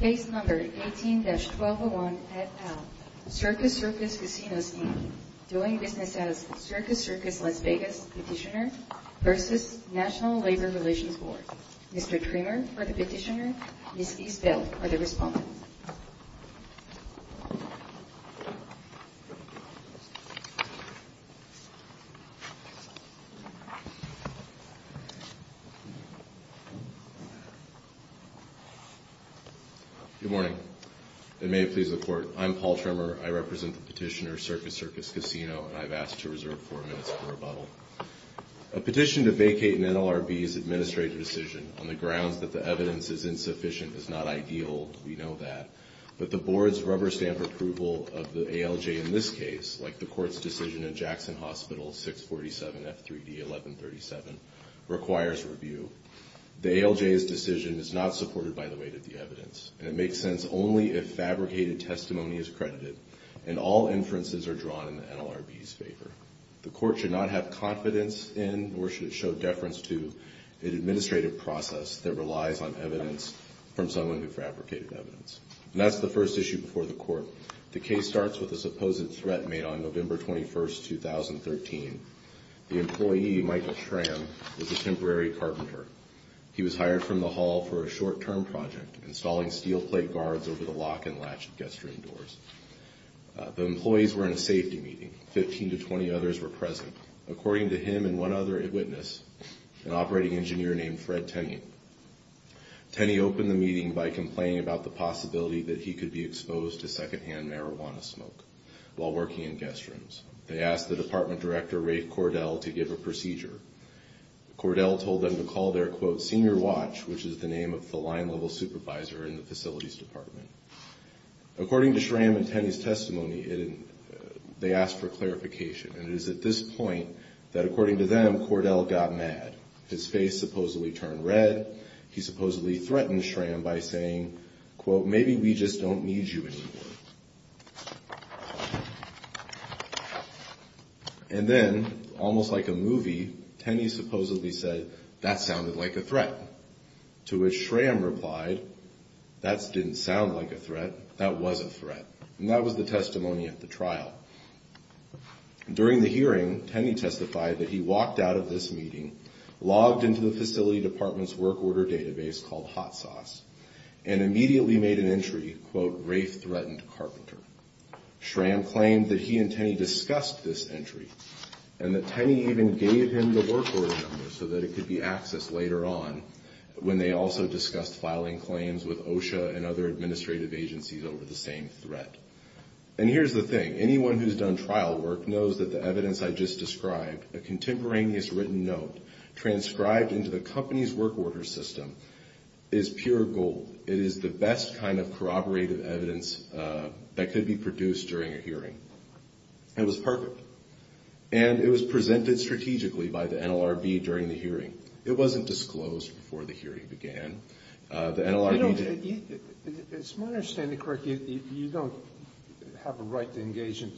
Case No. 18-1201 at Al, Circus Circus Casinos, Inc. Doing business as Circus Circus Las Vegas Petitioner v. National Labor Relations Board Mr. Tremor for the petitioner, Ms. Eastveld for the respondent Good morning, and may it please the Court. I'm Paul Tremor. I represent the petitioner, Circus Circus Casino, and I've asked to reserve four minutes for rebuttal. A petition to vacate an NLRB's administrative decision on the grounds that the evidence is insufficient is not ideal. We know that. But the Board's rubber-stamp approval of the ALJ in this case, like the Court's decision in Jackson Hospital 647 F3D 1137, requires review. The ALJ's decision is not supported by the weight of the evidence, and it makes sense only if fabricated testimony is credited and all inferences are drawn in the NLRB's favor. The Court should not have confidence in, nor should it show deference to, an administrative process that relies on evidence from someone who fabricated evidence. And that's the first issue before the Court. The case starts with a supposed threat made on November 21, 2013. The employee, Michael Tram, was a temporary carpenter. He was hired from the hall for a short-term project, installing steel plate guards over the lock and latch of guest room doors. The employees were in a safety meeting. Fifteen to twenty others were present, according to him and one other witness, an operating engineer named Fred Tenney. Tenney opened the meeting by complaining about the possibility that he could be exposed to second-hand marijuana smoke while working in guest rooms. They asked the department director, Ray Cordell, to give a procedure. Cordell told them to call their, quote, senior watch, which is the name of the line-level supervisor in the facilities department. According to Tram and Tenney's testimony, they asked for clarification, and it is at this point that, according to them, Cordell got mad. His face supposedly turned red. He supposedly threatened Tram by saying, quote, maybe we just don't need you anymore. And then, almost like a movie, Tenney supposedly said, that sounded like a threat, to which Tram replied, that didn't sound like a threat, that was a threat. And that was the testimony at the trial. During the hearing, Tenney testified that he walked out of this meeting, logged into the facility department's work order database called Hot Sauce, and immediately made an entry, quote, Rafe threatened Carpenter. Tram claimed that he and Tenney discussed this entry, and that Tenney even gave him the work order number so that it could be accessed later on, when they also discussed filing claims with OSHA and other administrative agencies over the same threat. And here's the thing, anyone who's done trial work knows that the evidence I just described, a contemporaneous written note, transcribed into the company's work order system, is pure gold. It is the best kind of corroborative evidence that could be produced during a hearing. It was perfect. And it was presented strategically by the NLRB during the hearing. It wasn't disclosed before the hearing began. The NLRB... It's my understanding, correct, you don't have a right to engage in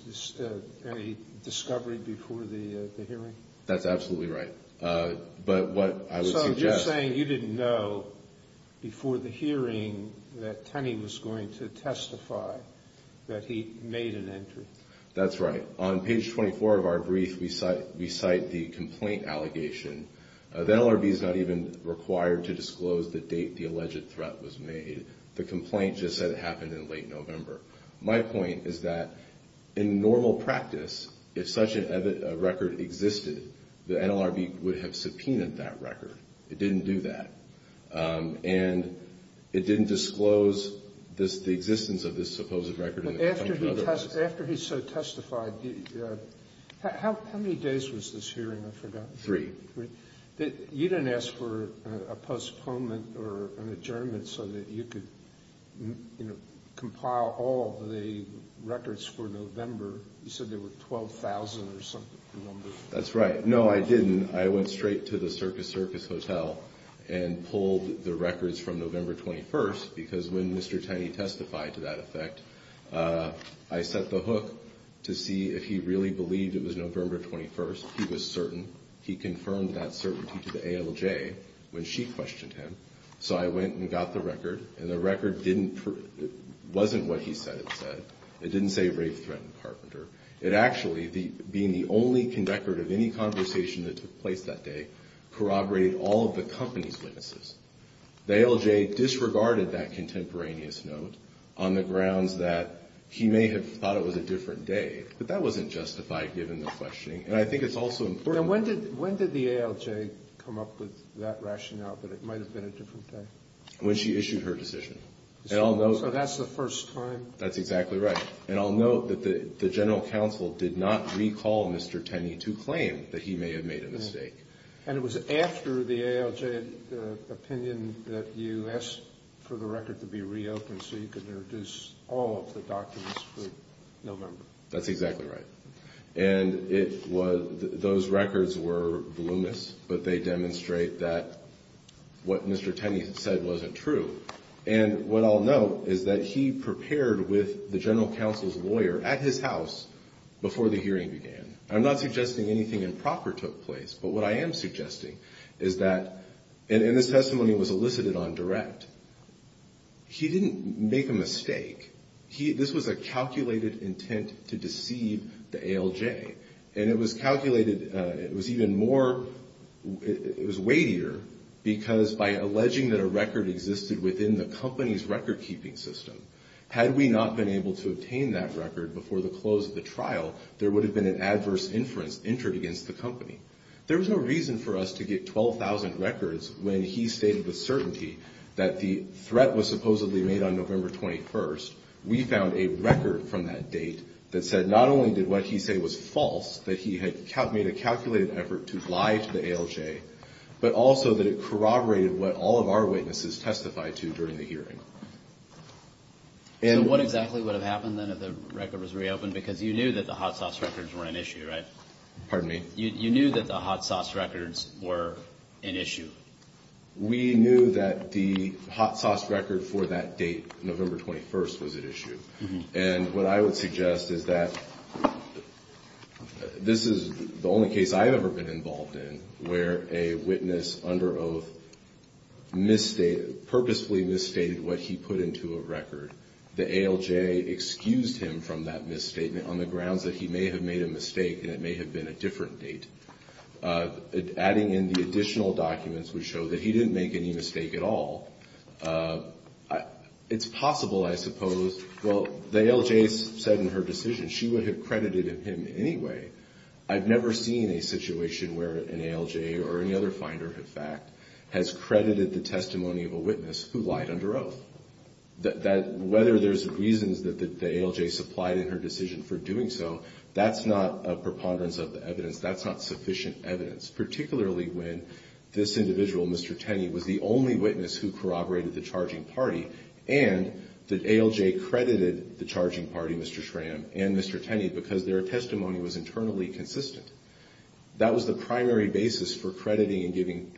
any discovery before the hearing? That's absolutely right. But what I would suggest... Before the hearing, that Tenney was going to testify that he made an entry. That's right. On page 24 of our brief, we cite the complaint allegation. The NLRB is not even required to disclose the date the alleged threat was made. The complaint just said it happened in late November. My point is that in normal practice, if such a record existed, the NLRB would have subpoenaed that record. It didn't do that. And it didn't disclose the existence of this supposed record. After he testified, how many days was this hearing? I forgot. Three. You didn't ask for a postponement or an adjournment so that you could compile all the records for November. You said there were 12,000 or something. That's right. No, I didn't. I went straight to the Circus Circus Hotel and pulled the records from November 21st, because when Mr. Tenney testified to that effect, I set the hook to see if he really believed it was November 21st. He was certain. He confirmed that certainty to the ALJ when she questioned him. So I went and got the record, and the record wasn't what he said it said. It didn't say rape-threatened carpenter. It actually, being the only conductor of any conversation that took place that day, corroborated all of the company's witnesses. The ALJ disregarded that contemporaneous note on the grounds that he may have thought it was a different day. But that wasn't justified, given the questioning. And I think it's also important. When did the ALJ come up with that rationale that it might have been a different day? When she issued her decision. So that's the first time. That's exactly right. And I'll note that the General Counsel did not recall Mr. Tenney to claim that he may have made a mistake. And it was after the ALJ opinion that you asked for the record to be reopened so you could introduce all of the documents for November. That's exactly right. And those records were voluminous, but they demonstrate that what Mr. Tenney said wasn't true. And what I'll note is that he prepared with the General Counsel's lawyer at his house before the hearing began. I'm not suggesting anything improper took place. But what I am suggesting is that, and this testimony was elicited on direct, he didn't make a mistake. This was a calculated intent to deceive the ALJ. And it was calculated, it was even more, it was weightier because by alleging that a record existed within the company's record-keeping system, had we not been able to obtain that record before the close of the trial, there would have been an adverse inference entered against the company. There was no reason for us to get 12,000 records when he stated with certainty that the threat was supposedly made on November 21st. We found a record from that date that said not only did what he said was false, that he had made a calculated effort to lie to the ALJ, but also that it corroborated what all of our witnesses testified to during the hearing. So what exactly would have happened then if the record was reopened? Because you knew that the hot sauce records were an issue, right? Pardon me? You knew that the hot sauce records were an issue? We knew that the hot sauce record for that date, November 21st, was an issue. And what I would suggest is that this is the only case I've ever been involved in where a witness under oath purposely misstated what he put into a record. The ALJ excused him from that misstatement on the grounds that he may have made a mistake and it may have been a different date. Adding in the additional documents would show that he didn't make any mistake at all. It's possible, I suppose, well, the ALJ said in her decision she would have credited him anyway. I've never seen a situation where an ALJ or any other finder, in fact, has credited the testimony of a witness who lied under oath. Whether there's reasons that the ALJ supplied in her decision for doing so, that's not a preponderance of the evidence. That's not sufficient evidence, particularly when this individual, Mr. Tenney, was the only witness who corroborated the charging party, and the ALJ credited the charging party, Mr. Schramm and Mr. Tenney, because their testimony was internally consistent. That was the primary basis for crediting and giving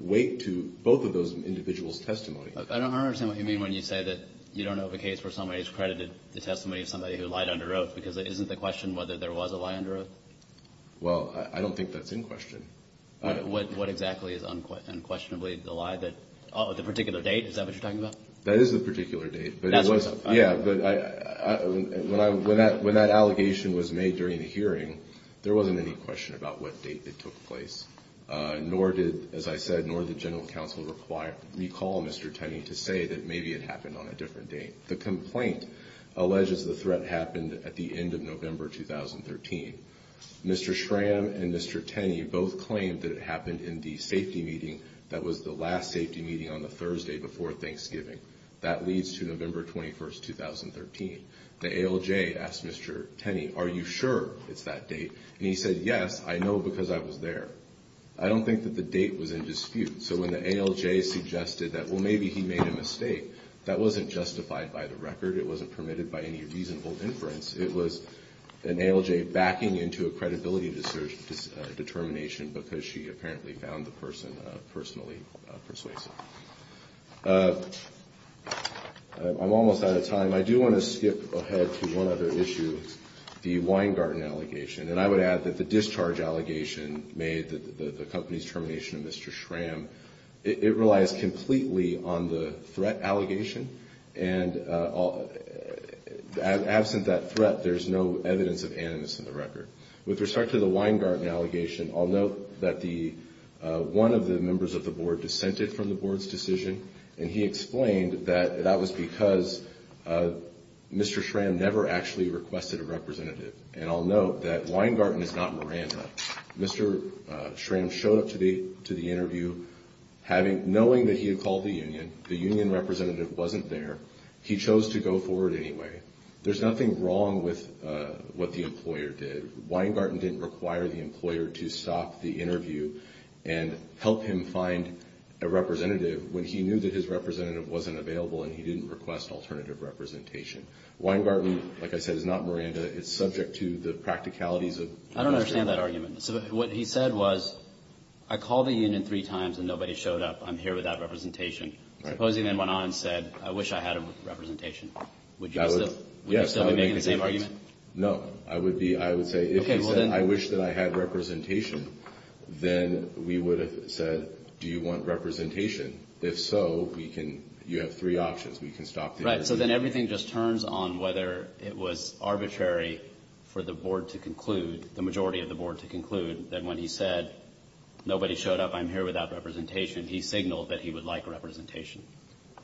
weight to both of those individuals' testimony. I don't understand what you mean when you say that you don't know of a case where somebody has credited the testimony of somebody who lied under oath, because isn't the question whether there was a lie under oath? Well, I don't think that's in question. What exactly is unquestionably the lie? Oh, the particular date, is that what you're talking about? That is the particular date. That's what it's about. Yeah, but when that allegation was made during the hearing, there wasn't any question about what date it took place, nor did, as I said, nor did General Counsel recall Mr. Tenney to say that maybe it happened on a different date. The complaint alleges the threat happened at the end of November 2013. Mr. Schramm and Mr. Tenney both claimed that it happened in the safety meeting that was the last safety meeting on the Thursday before Thanksgiving. That leads to November 21, 2013. The ALJ asked Mr. Tenney, are you sure it's that date? And he said, yes, I know because I was there. I don't think that the date was in dispute. So when the ALJ suggested that, well, maybe he made a mistake, that wasn't justified by the record. It wasn't permitted by any reasonable inference. It was an ALJ backing into a credibility determination because she apparently found the person personally persuasive. I'm almost out of time. I do want to skip ahead to one other issue, the Weingarten allegation. And I would add that the discharge allegation made the company's termination of Mr. Schramm, it relies completely on the threat allegation. And absent that threat, there's no evidence of animus in the record. With respect to the Weingarten allegation, I'll note that one of the members of the board dissented from the board's decision. And he explained that that was because Mr. Schramm never actually requested a representative. And I'll note that Weingarten is not Miranda. Mr. Schramm showed up to the interview knowing that he had called the union. The union representative wasn't there. He chose to go forward anyway. There's nothing wrong with what the employer did. Weingarten didn't require the employer to stop the interview and help him find a representative when he knew that his representative wasn't available and he didn't request alternative representation. Weingarten, like I said, is not Miranda. It's subject to the practicalities of the question. I don't understand that argument. What he said was, I called the union three times and nobody showed up. I'm here without representation. Suppose he then went on and said, I wish I had representation. Would you still be making the same argument? No. I would say, if he said, I wish that I had representation, then we would have said, do you want representation? If so, you have three options. We can stop the interview. And so then everything just turns on whether it was arbitrary for the board to conclude, the majority of the board to conclude, that when he said, nobody showed up, I'm here without representation, he signaled that he would like representation.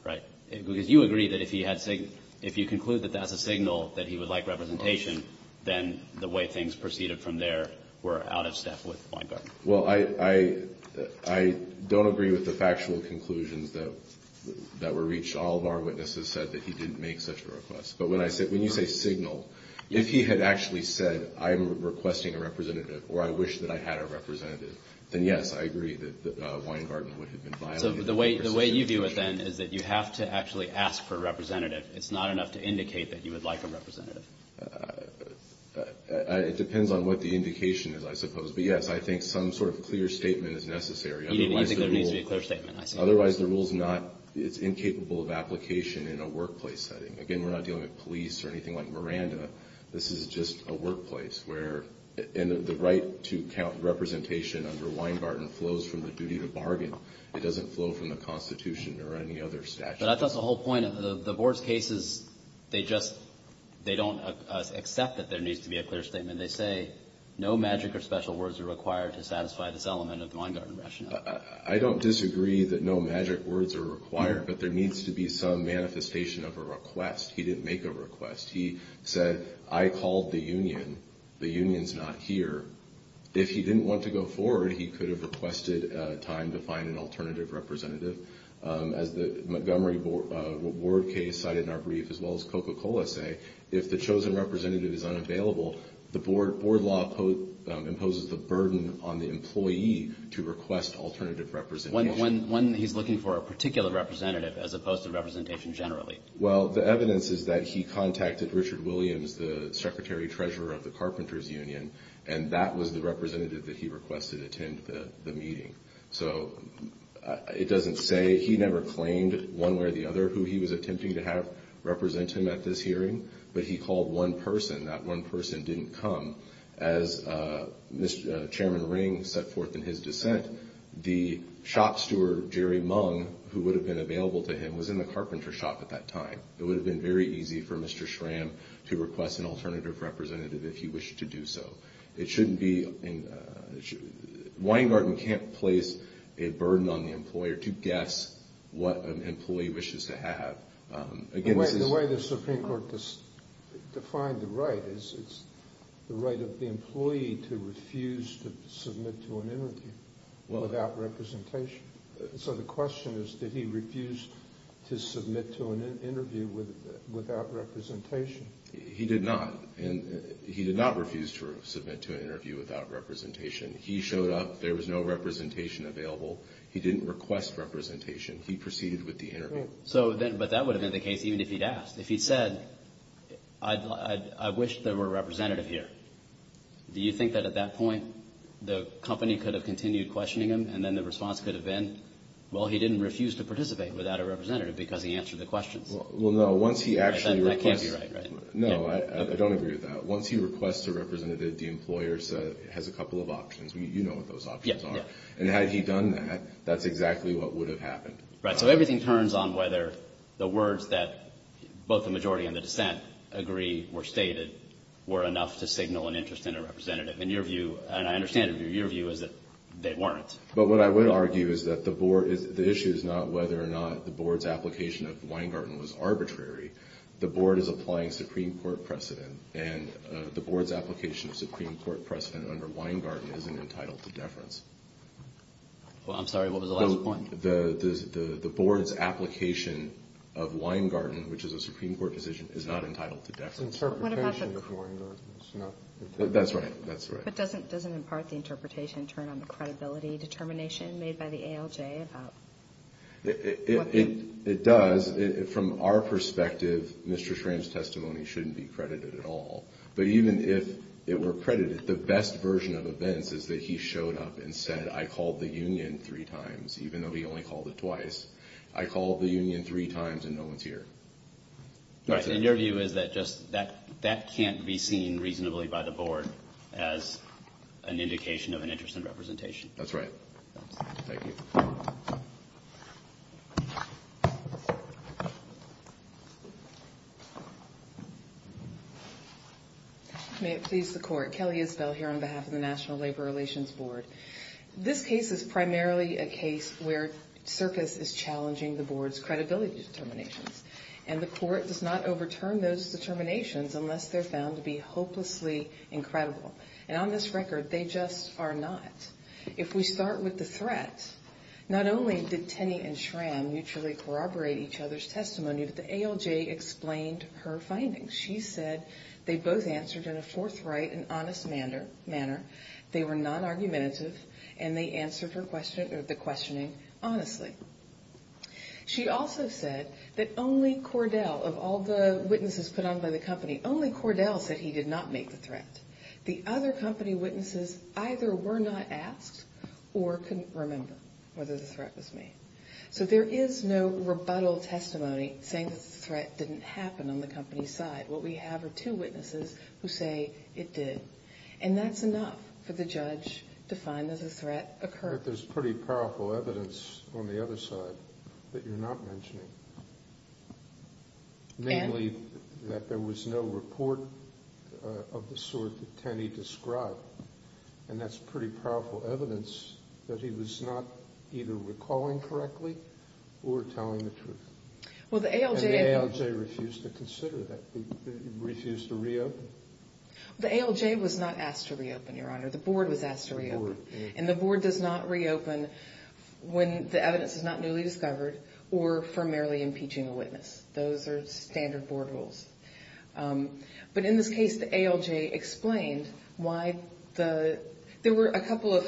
Right? Because you agree that if he had signaled, if you conclude that that's a signal that he would like representation, then the way things proceeded from there were out of step with Weingarten. Well, I don't agree with the factual conclusions that were reached. All of our witnesses said that he didn't make such a request. But when you say signal, if he had actually said, I'm requesting a representative, or I wish that I had a representative, then, yes, I agree that Weingarten would have been violated. So the way you view it, then, is that you have to actually ask for a representative. It's not enough to indicate that you would like a representative. It depends on what the indication is, I suppose. But, yes, I think some sort of clear statement is necessary. You think there needs to be a clear statement, I see. Otherwise, the rule's not, it's incapable of application in a workplace setting. Again, we're not dealing with police or anything like Miranda. This is just a workplace where, and the right to count representation under Weingarten flows from the duty to bargain. It doesn't flow from the Constitution or any other statute. But that's the whole point. The Board's case is they just, they don't accept that there needs to be a clear statement. They say no magic or special words are required to satisfy this element of the Weingarten rationale. I don't disagree that no magic words are required. But there needs to be some manifestation of a request. He didn't make a request. He said, I called the union. The union's not here. If he didn't want to go forward, he could have requested time to find an alternative representative. As the Montgomery Ward case cited in our brief, as well as Coca-Cola say, if the chosen representative is unavailable, the Board law imposes the burden on the employee to request alternative representation. When he's looking for a particular representative as opposed to representation generally? Well, the evidence is that he contacted Richard Williams, the Secretary-Treasurer of the Carpenters Union, and that was the representative that he requested attend the meeting. So it doesn't say. He never claimed one way or the other who he was attempting to have represent him at this hearing. But he called one person. That one person didn't come. As Chairman Ring set forth in his dissent, the shop steward, Jerry Mung, who would have been available to him, was in the carpenter shop at that time. It would have been very easy for Mr. Schramm to request an alternative representative if he wished to do so. It shouldn't be – Weingarten can't place a burden on the employer to guess what an employee wishes to have. The way the Supreme Court defined the right is it's the right of the employee to refuse to submit to an interview without representation. So the question is, did he refuse to submit to an interview without representation? He did not. He did not refuse to submit to an interview without representation. He showed up. There was no representation available. He didn't request representation. He proceeded with the interview. But that would have been the case even if he'd asked. If he'd said, I wish there were a representative here, do you think that at that point the company could have continued questioning him and then the response could have been, well, he didn't refuse to participate without a representative because he answered the questions? Well, no. Once he actually requests – That can't be right, right? No, I don't agree with that. Once he requests a representative, the employer has a couple of options. You know what those options are. And had he done that, that's exactly what would have happened. Right. So everything turns on whether the words that both the majority and the dissent agree were stated were enough to signal an interest in a representative. And your view, and I understand your view, is that they weren't. But what I would argue is that the board – the issue is not whether or not the board's application of Weingarten was arbitrary. The board is applying Supreme Court precedent, and the board's application of Supreme Court precedent under Weingarten isn't entitled to deference. Well, I'm sorry. What was the last point? The board's application of Weingarten, which is a Supreme Court decision, is not entitled to deference. It's interpretation of Weingarten. That's right. That's right. But doesn't, in part, the interpretation turn on the credibility determination made by the ALJ about – It does. From our perspective, Mr. Schramm's testimony shouldn't be credited at all. But even if it were credited, the best version of events is that he showed up and said, I called the union three times, even though he only called it twice. I called the union three times and no one's here. Right. And your view is that just – that can't be seen reasonably by the board as an indication of an interest in representation. That's right. Thank you. May it please the court. Kelly Isbell here on behalf of the National Labor Relations Board. This case is primarily a case where circus is challenging the board's credibility determinations, and the court does not overturn those determinations unless they're found to be hopelessly incredible. And on this record, they just are not. If we start with the threat, not only did Tenney and Schramm mutually corroborate each other's testimony, but the ALJ explained her findings. She said they both answered in a forthright and honest manner, they were non-argumentative, and they answered the questioning honestly. She also said that only Cordell, of all the witnesses put on by the company, only Cordell said he did not make the threat. The other company witnesses either were not asked or couldn't remember whether the threat was made. So there is no rebuttal testimony saying that the threat didn't happen on the company's side. What we have are two witnesses who say it did. And that's enough for the judge to find that the threat occurred. But there's pretty powerful evidence on the other side that you're not mentioning, namely that there was no report of the sort that Tenney described, and that's pretty powerful evidence that he was not either recalling correctly or telling the truth. And the ALJ refused to consider that. It refused to reopen. The ALJ was not asked to reopen, Your Honor. The board was asked to reopen. And the board does not reopen when the evidence is not newly discovered or for merely impeaching a witness. Those are standard board rules. But in this case, the ALJ explained why there were a couple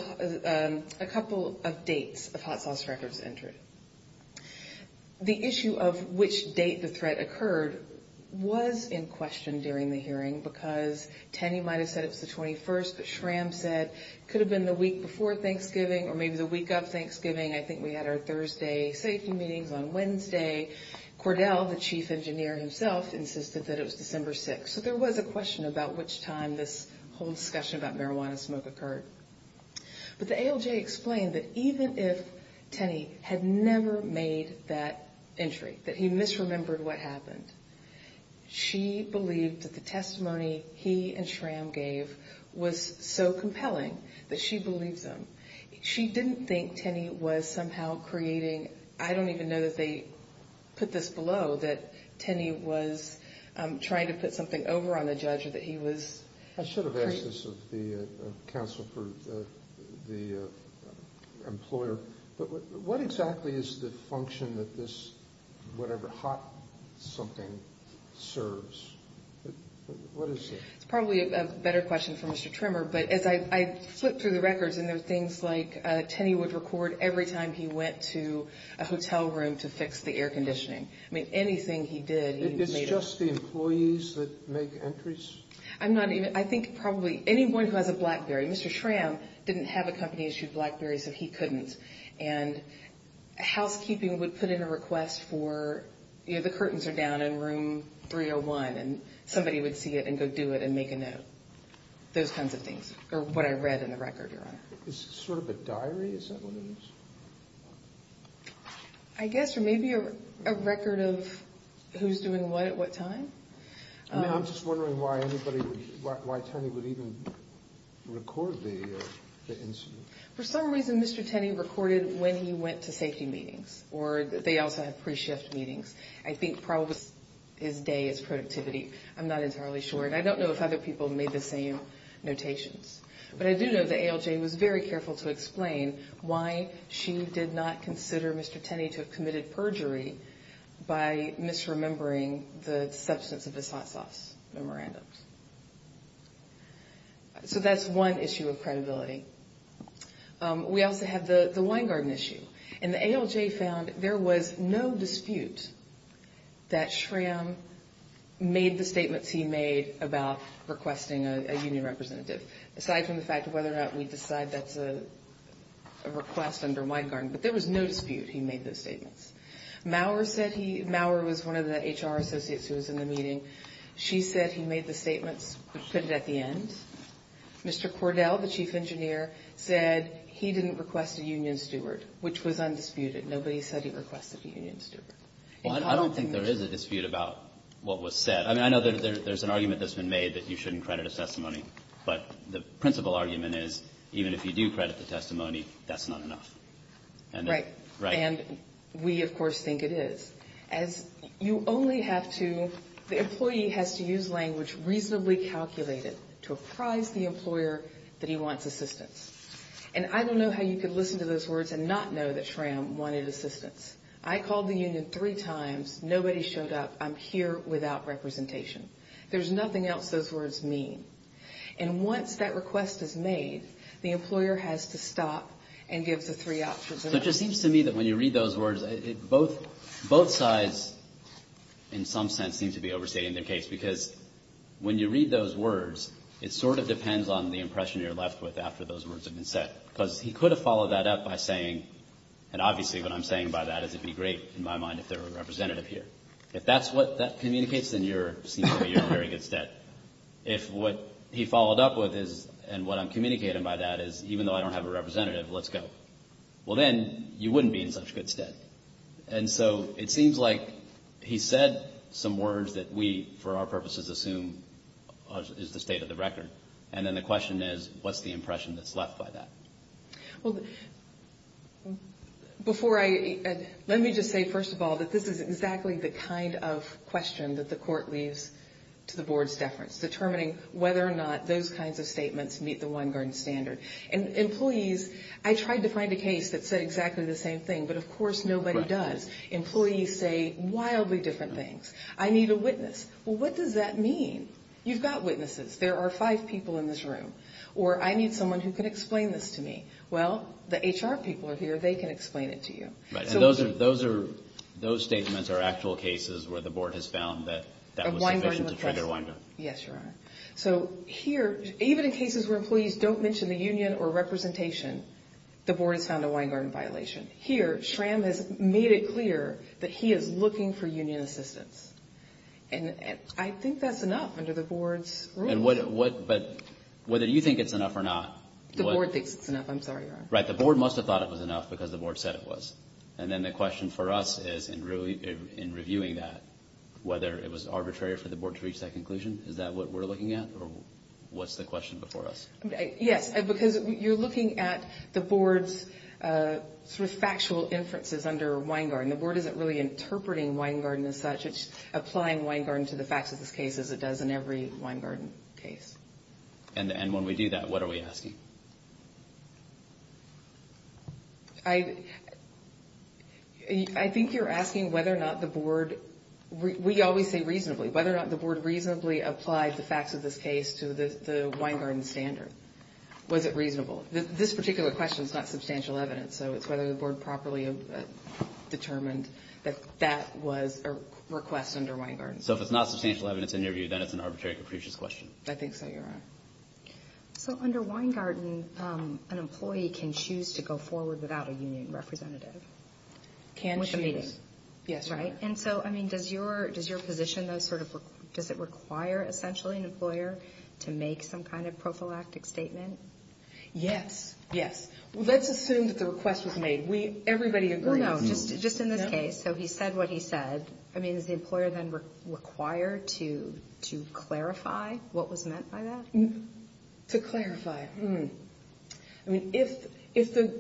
of dates of hot sauce records entered. The issue of which date the threat occurred was in question during the hearing because Tenney might have said it was the 21st, but Schramm said it could have been the week before Thanksgiving or maybe the week of Thanksgiving. I think we had our Thursday safety meetings on Wednesday. Cordell, the chief engineer himself, insisted that it was December 6th. So there was a question about which time this whole discussion about marijuana smoke occurred. But the ALJ explained that even if Tenney had never made that entry, that he misremembered what happened, she believed that the testimony he and Schramm gave was so compelling that she believed them. She didn't think Tenney was somehow creating, I don't even know that they put this below, that Tenney was trying to put something over on the judge or that he was. I should have asked this of the counsel for the employer. But what exactly is the function that this whatever hot something serves? What is it? It's probably a better question for Mr. Trimmer. But as I flip through the records and there are things like Tenney would record every time he went to a hotel room to fix the air conditioning. I mean, anything he did. It's just the employees that make entries. I'm not even I think probably anyone who has a BlackBerry. Mr. Schramm didn't have a company issued BlackBerry, so he couldn't. And housekeeping would put in a request for the curtains are down in room 301 and somebody would see it and go do it and make a note. Those kinds of things are what I read in the record. It's sort of a diary. I guess or maybe a record of who's doing what at what time. I'm just wondering why anybody would even record the incident. For some reason, Mr. Tenney recorded when he went to safety meetings or they also have pre-shift meetings. I think probably his day is productivity. I'm not entirely sure. And I don't know if other people made the same notations. But I do know the ALJ was very careful to explain why she did not consider Mr. Tenney to have committed perjury by misremembering the substance of his hot sauce memorandums. So that's one issue of credibility. We also have the Weingarten issue. And the ALJ found there was no dispute that Schramm made the statements he made about requesting a union representative. Aside from the fact of whether or not we decide that's a request under Weingarten. But there was no dispute he made those statements. Maurer was one of the HR associates who was in the meeting. She said he made the statements, put it at the end. Mr. Cordell, the chief engineer, said he didn't request a union steward, which was undisputed. Nobody said he requested a union steward. I don't think there is a dispute about what was said. I mean, I know there's an argument that's been made that you shouldn't credit a testimony. But the principal argument is even if you do credit the testimony, that's not enough. Right. Right. And we, of course, think it is. As you only have to, the employee has to use language reasonably calculated to apprise the employer that he wants assistance. And I don't know how you could listen to those words and not know that Schramm wanted assistance. I called the union three times. Nobody showed up. I'm here without representation. There's nothing else those words mean. And once that request is made, the employer has to stop and give the three options. So it just seems to me that when you read those words, both sides in some sense seem to be overstating their case. Because when you read those words, it sort of depends on the impression you're left with after those words have been said. Because he could have followed that up by saying, and obviously what I'm saying by that is it would be great in my mind if there were a representative here. If that's what that communicates, then you're, it seems to me, you're in a very good stead. If what he followed up with is, and what I'm communicating by that is, even though I don't have a representative, let's go. Well, then you wouldn't be in such good stead. And so it seems like he said some words that we, for our purposes, assume is the state of the record. And then the question is, what's the impression that's left by that? Well, before I, let me just say, first of all, that this is exactly the kind of question that the court leaves to the board's deference, determining whether or not those kinds of statements meet the one-garden standard. And employees, I tried to find a case that said exactly the same thing, but of course nobody does. Employees say wildly different things. I need a witness. Well, what does that mean? You've got witnesses. There are five people in this room. Or I need someone who can explain this to me. Well, the HR people are here. They can explain it to you. Right. And those are, those statements are actual cases where the board has found that that was sufficient to trigger one-garden. Yes, Your Honor. So here, even in cases where employees don't mention the union or representation, the board has found a one-garden violation. Here, SRAM has made it clear that he is looking for union assistance. And I think that's enough under the board's rule. But whether you think it's enough or not. The board thinks it's enough. I'm sorry, Your Honor. Right. The board must have thought it was enough because the board said it was. And then the question for us is, in reviewing that, whether it was arbitrary for the board to reach that conclusion? Is that what we're looking at? Or what's the question before us? Yes, because you're looking at the board's sort of factual inferences under one-garden. The board isn't really interpreting one-garden as such. It's applying one-garden to the facts of this case as it does in every one-garden case. And when we do that, what are we asking? I think you're asking whether or not the board—we always say reasonably—whether or not the board reasonably applied the facts of this case to the one-garden standard. Was it reasonable? This particular question is not substantial evidence. So it's whether the board properly determined that that was a request under one-garden. So if it's not substantial evidence in your view, then it's an arbitrary, capricious question. I think so, Your Honor. So under one-garden, an employee can choose to go forward without a union representative. Can choose. With a meeting. Yes, Your Honor. Right? And so, I mean, does your position, though, sort of—does it require, essentially, an employer to make some kind of prophylactic statement? Yes. Yes. Let's assume that the request was made. Everybody agrees. No, just in this case. So he said what he said. I mean, is the employer then required to clarify what was meant by that? To clarify. Hmm. I mean, if the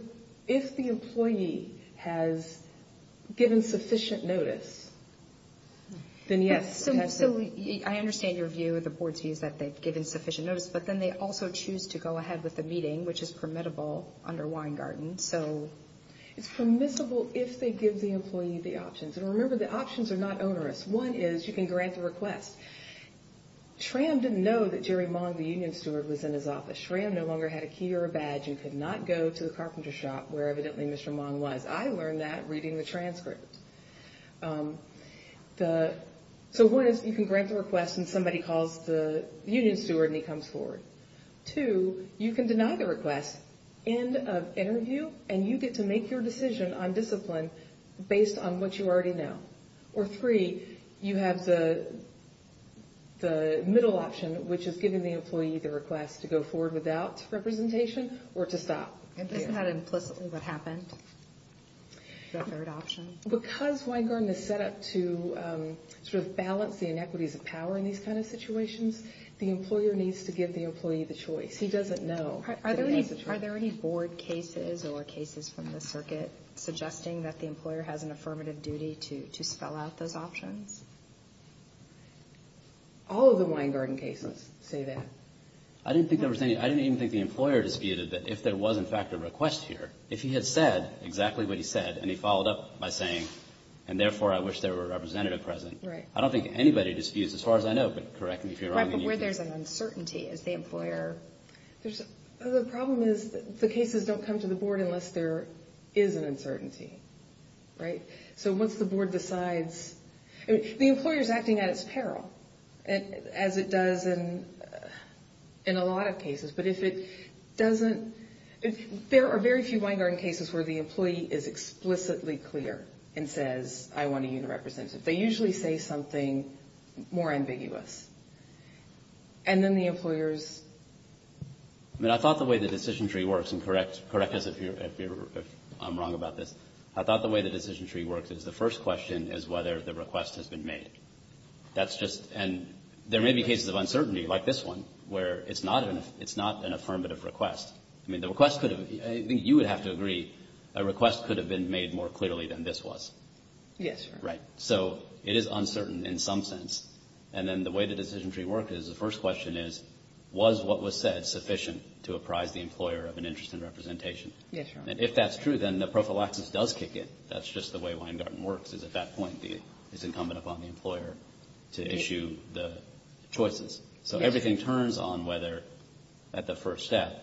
employee has given sufficient notice, then yes. So I understand your view, the board's view, is that they've given sufficient notice, but then they also choose to go ahead with the meeting, which is permissible under one-garden. So— It's permissible if they give the employee the options. And remember, the options are not onerous. One is you can grant the request. SRAM didn't know that Jerry Mong, the union steward, was in his office. SRAM no longer had a key or a badge and could not go to the carpenter shop where, evidently, Mr. Mong was. I learned that reading the transcript. So one is you can grant the request and somebody calls the union steward and he comes forward. Two, you can deny the request, end of interview, and you get to make your decision on discipline based on what you already know. Or three, you have the middle option, which is giving the employee the request to go forward without representation or to stop. It doesn't have implicitly what happened, the third option. Because one-garden is set up to sort of balance the inequities of power in these kind of situations, the employer needs to give the employee the choice. He doesn't know. Are there any board cases or cases from the circuit suggesting that the employer has an affirmative duty to spell out those options? All of the one-garden cases say that. I didn't think there was any. I didn't even think the employer disputed that if there was, in fact, a request here, if he had said exactly what he said and he followed up by saying, and therefore I wish there were a representative present. Right. I don't think anybody disputes, as far as I know, but correct me if you're wrong. Where there's an uncertainty is the employer. The problem is the cases don't come to the board unless there is an uncertainty, right? So once the board decides, the employer is acting at its peril, as it does in a lot of cases. But if it doesn't, there are very few one-garden cases where the employee is explicitly clear and says, I want a unit representative. They usually say something more ambiguous. And then the employer's ‑‑ I thought the way the decision tree works, and correct us if I'm wrong about this, I thought the way the decision tree works is the first question is whether the request has been made. That's just, and there may be cases of uncertainty, like this one, where it's not an affirmative request. I mean, the request could have, I think you would have to agree, a request could have been made more clearly than this was. Yes, Your Honor. Right. So it is uncertain in some sense. And then the way the decision tree works is the first question is, was what was said sufficient to apprise the employer of an interest in representation? Yes, Your Honor. And if that's true, then the prophylaxis does kick in. That's just the way one-garden works, is at that point it's incumbent upon the employer to issue the choices. So everything turns on whether, at the first step,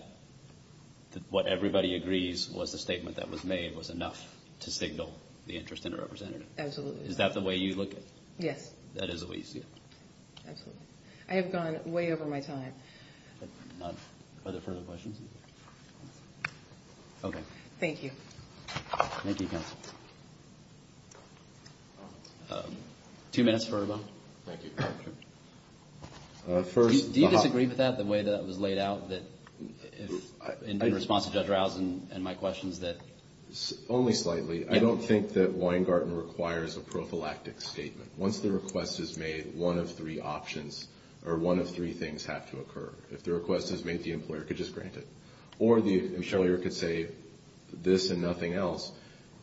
what everybody agrees was the statement that was made was enough to signal the interest in a representative. Absolutely. Is that the way you look at it? Yes. That is the way you see it? Absolutely. I have gone way over my time. Are there further questions? Okay. Thank you. Thank you, counsel. Two minutes for a vote. Thank you, Your Honor. Do you disagree with that, the way that was laid out, in response to Judge Rouse and my questions? Only slightly. I don't think that one-garden requires a prophylactic statement. Once the request is made, one of three options or one of three things have to occur. If the request is made, the employer could just grant it. Or the employer could say this and nothing else.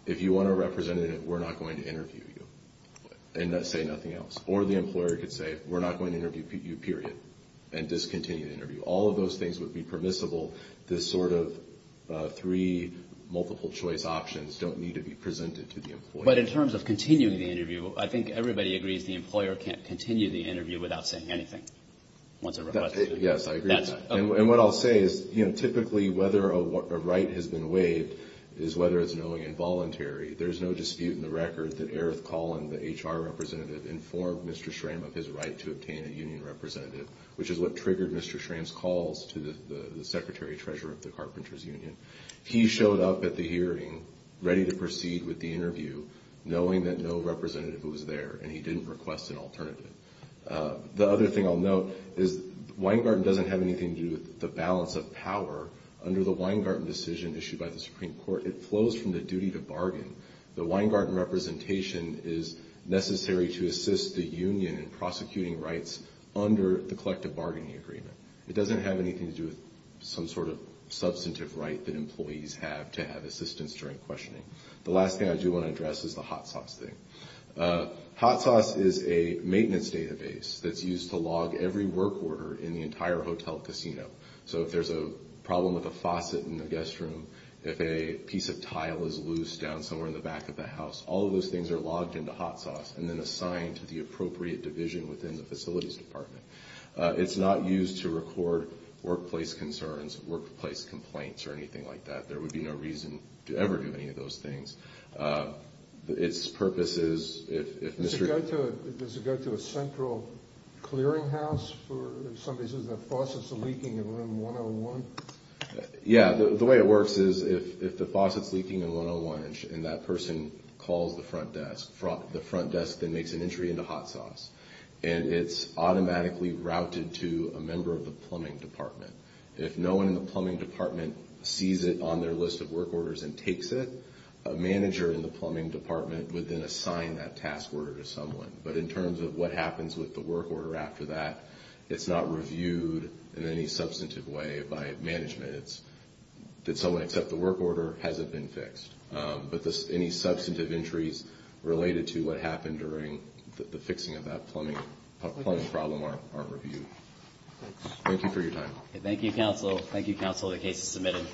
If you want a representative, we're not going to interview you and say nothing else. Or the employer could say, we're not going to interview you, period, and discontinue the interview. All of those things would be permissible. This sort of three multiple-choice options don't need to be presented to the employer. But in terms of continuing the interview, I think everybody agrees the employer can't continue the interview without saying anything. Yes, I agree with that. And what I'll say is, you know, typically whether a right has been waived is whether it's knowing and voluntary. There's no dispute in the record that Eric Collin, the HR representative, informed Mr. Schramm of his right to obtain a union representative, which is what triggered Mr. Schramm's calls to the Secretary-Treasurer of the Carpenters Union. He showed up at the hearing ready to proceed with the interview, knowing that no representative was there, and he didn't request an alternative. The other thing I'll note is Weingarten doesn't have anything to do with the balance of power. Under the Weingarten decision issued by the Supreme Court, it flows from the duty to bargain. The Weingarten representation is necessary to assist the union in prosecuting rights under the collective bargaining agreement. It doesn't have anything to do with some sort of substantive right that employees have to have assistance during questioning. The last thing I do want to address is the hot sauce thing. Hot sauce is a maintenance database that's used to log every work order in the entire hotel casino. So if there's a problem with a faucet in the guest room, if a piece of tile is loose down somewhere in the back of the house, all of those things are logged into hot sauce and then assigned to the appropriate division within the facilities department. It's not used to record workplace concerns, workplace complaints, or anything like that. There would be no reason to ever do any of those things. Its purpose is if Mr. Does it go to a central clearinghouse for somebody who says their faucet's leaking in room 101? Yeah. The way it works is if the faucet's leaking in room 101 and that person calls the front desk, the front desk then makes an entry into hot sauce, and it's automatically routed to a member of the plumbing department. If no one in the plumbing department sees it on their list of work orders and takes it, a manager in the plumbing department would then assign that task order to someone. But in terms of what happens with the work order after that, it's not reviewed in any substantive way by management. It's that someone except the work order hasn't been fixed. But any substantive entries related to what happened during the fixing of that plumbing problem aren't reviewed. Thank you for your time. Thank you, counsel. Thank you, counsel. The case is submitted.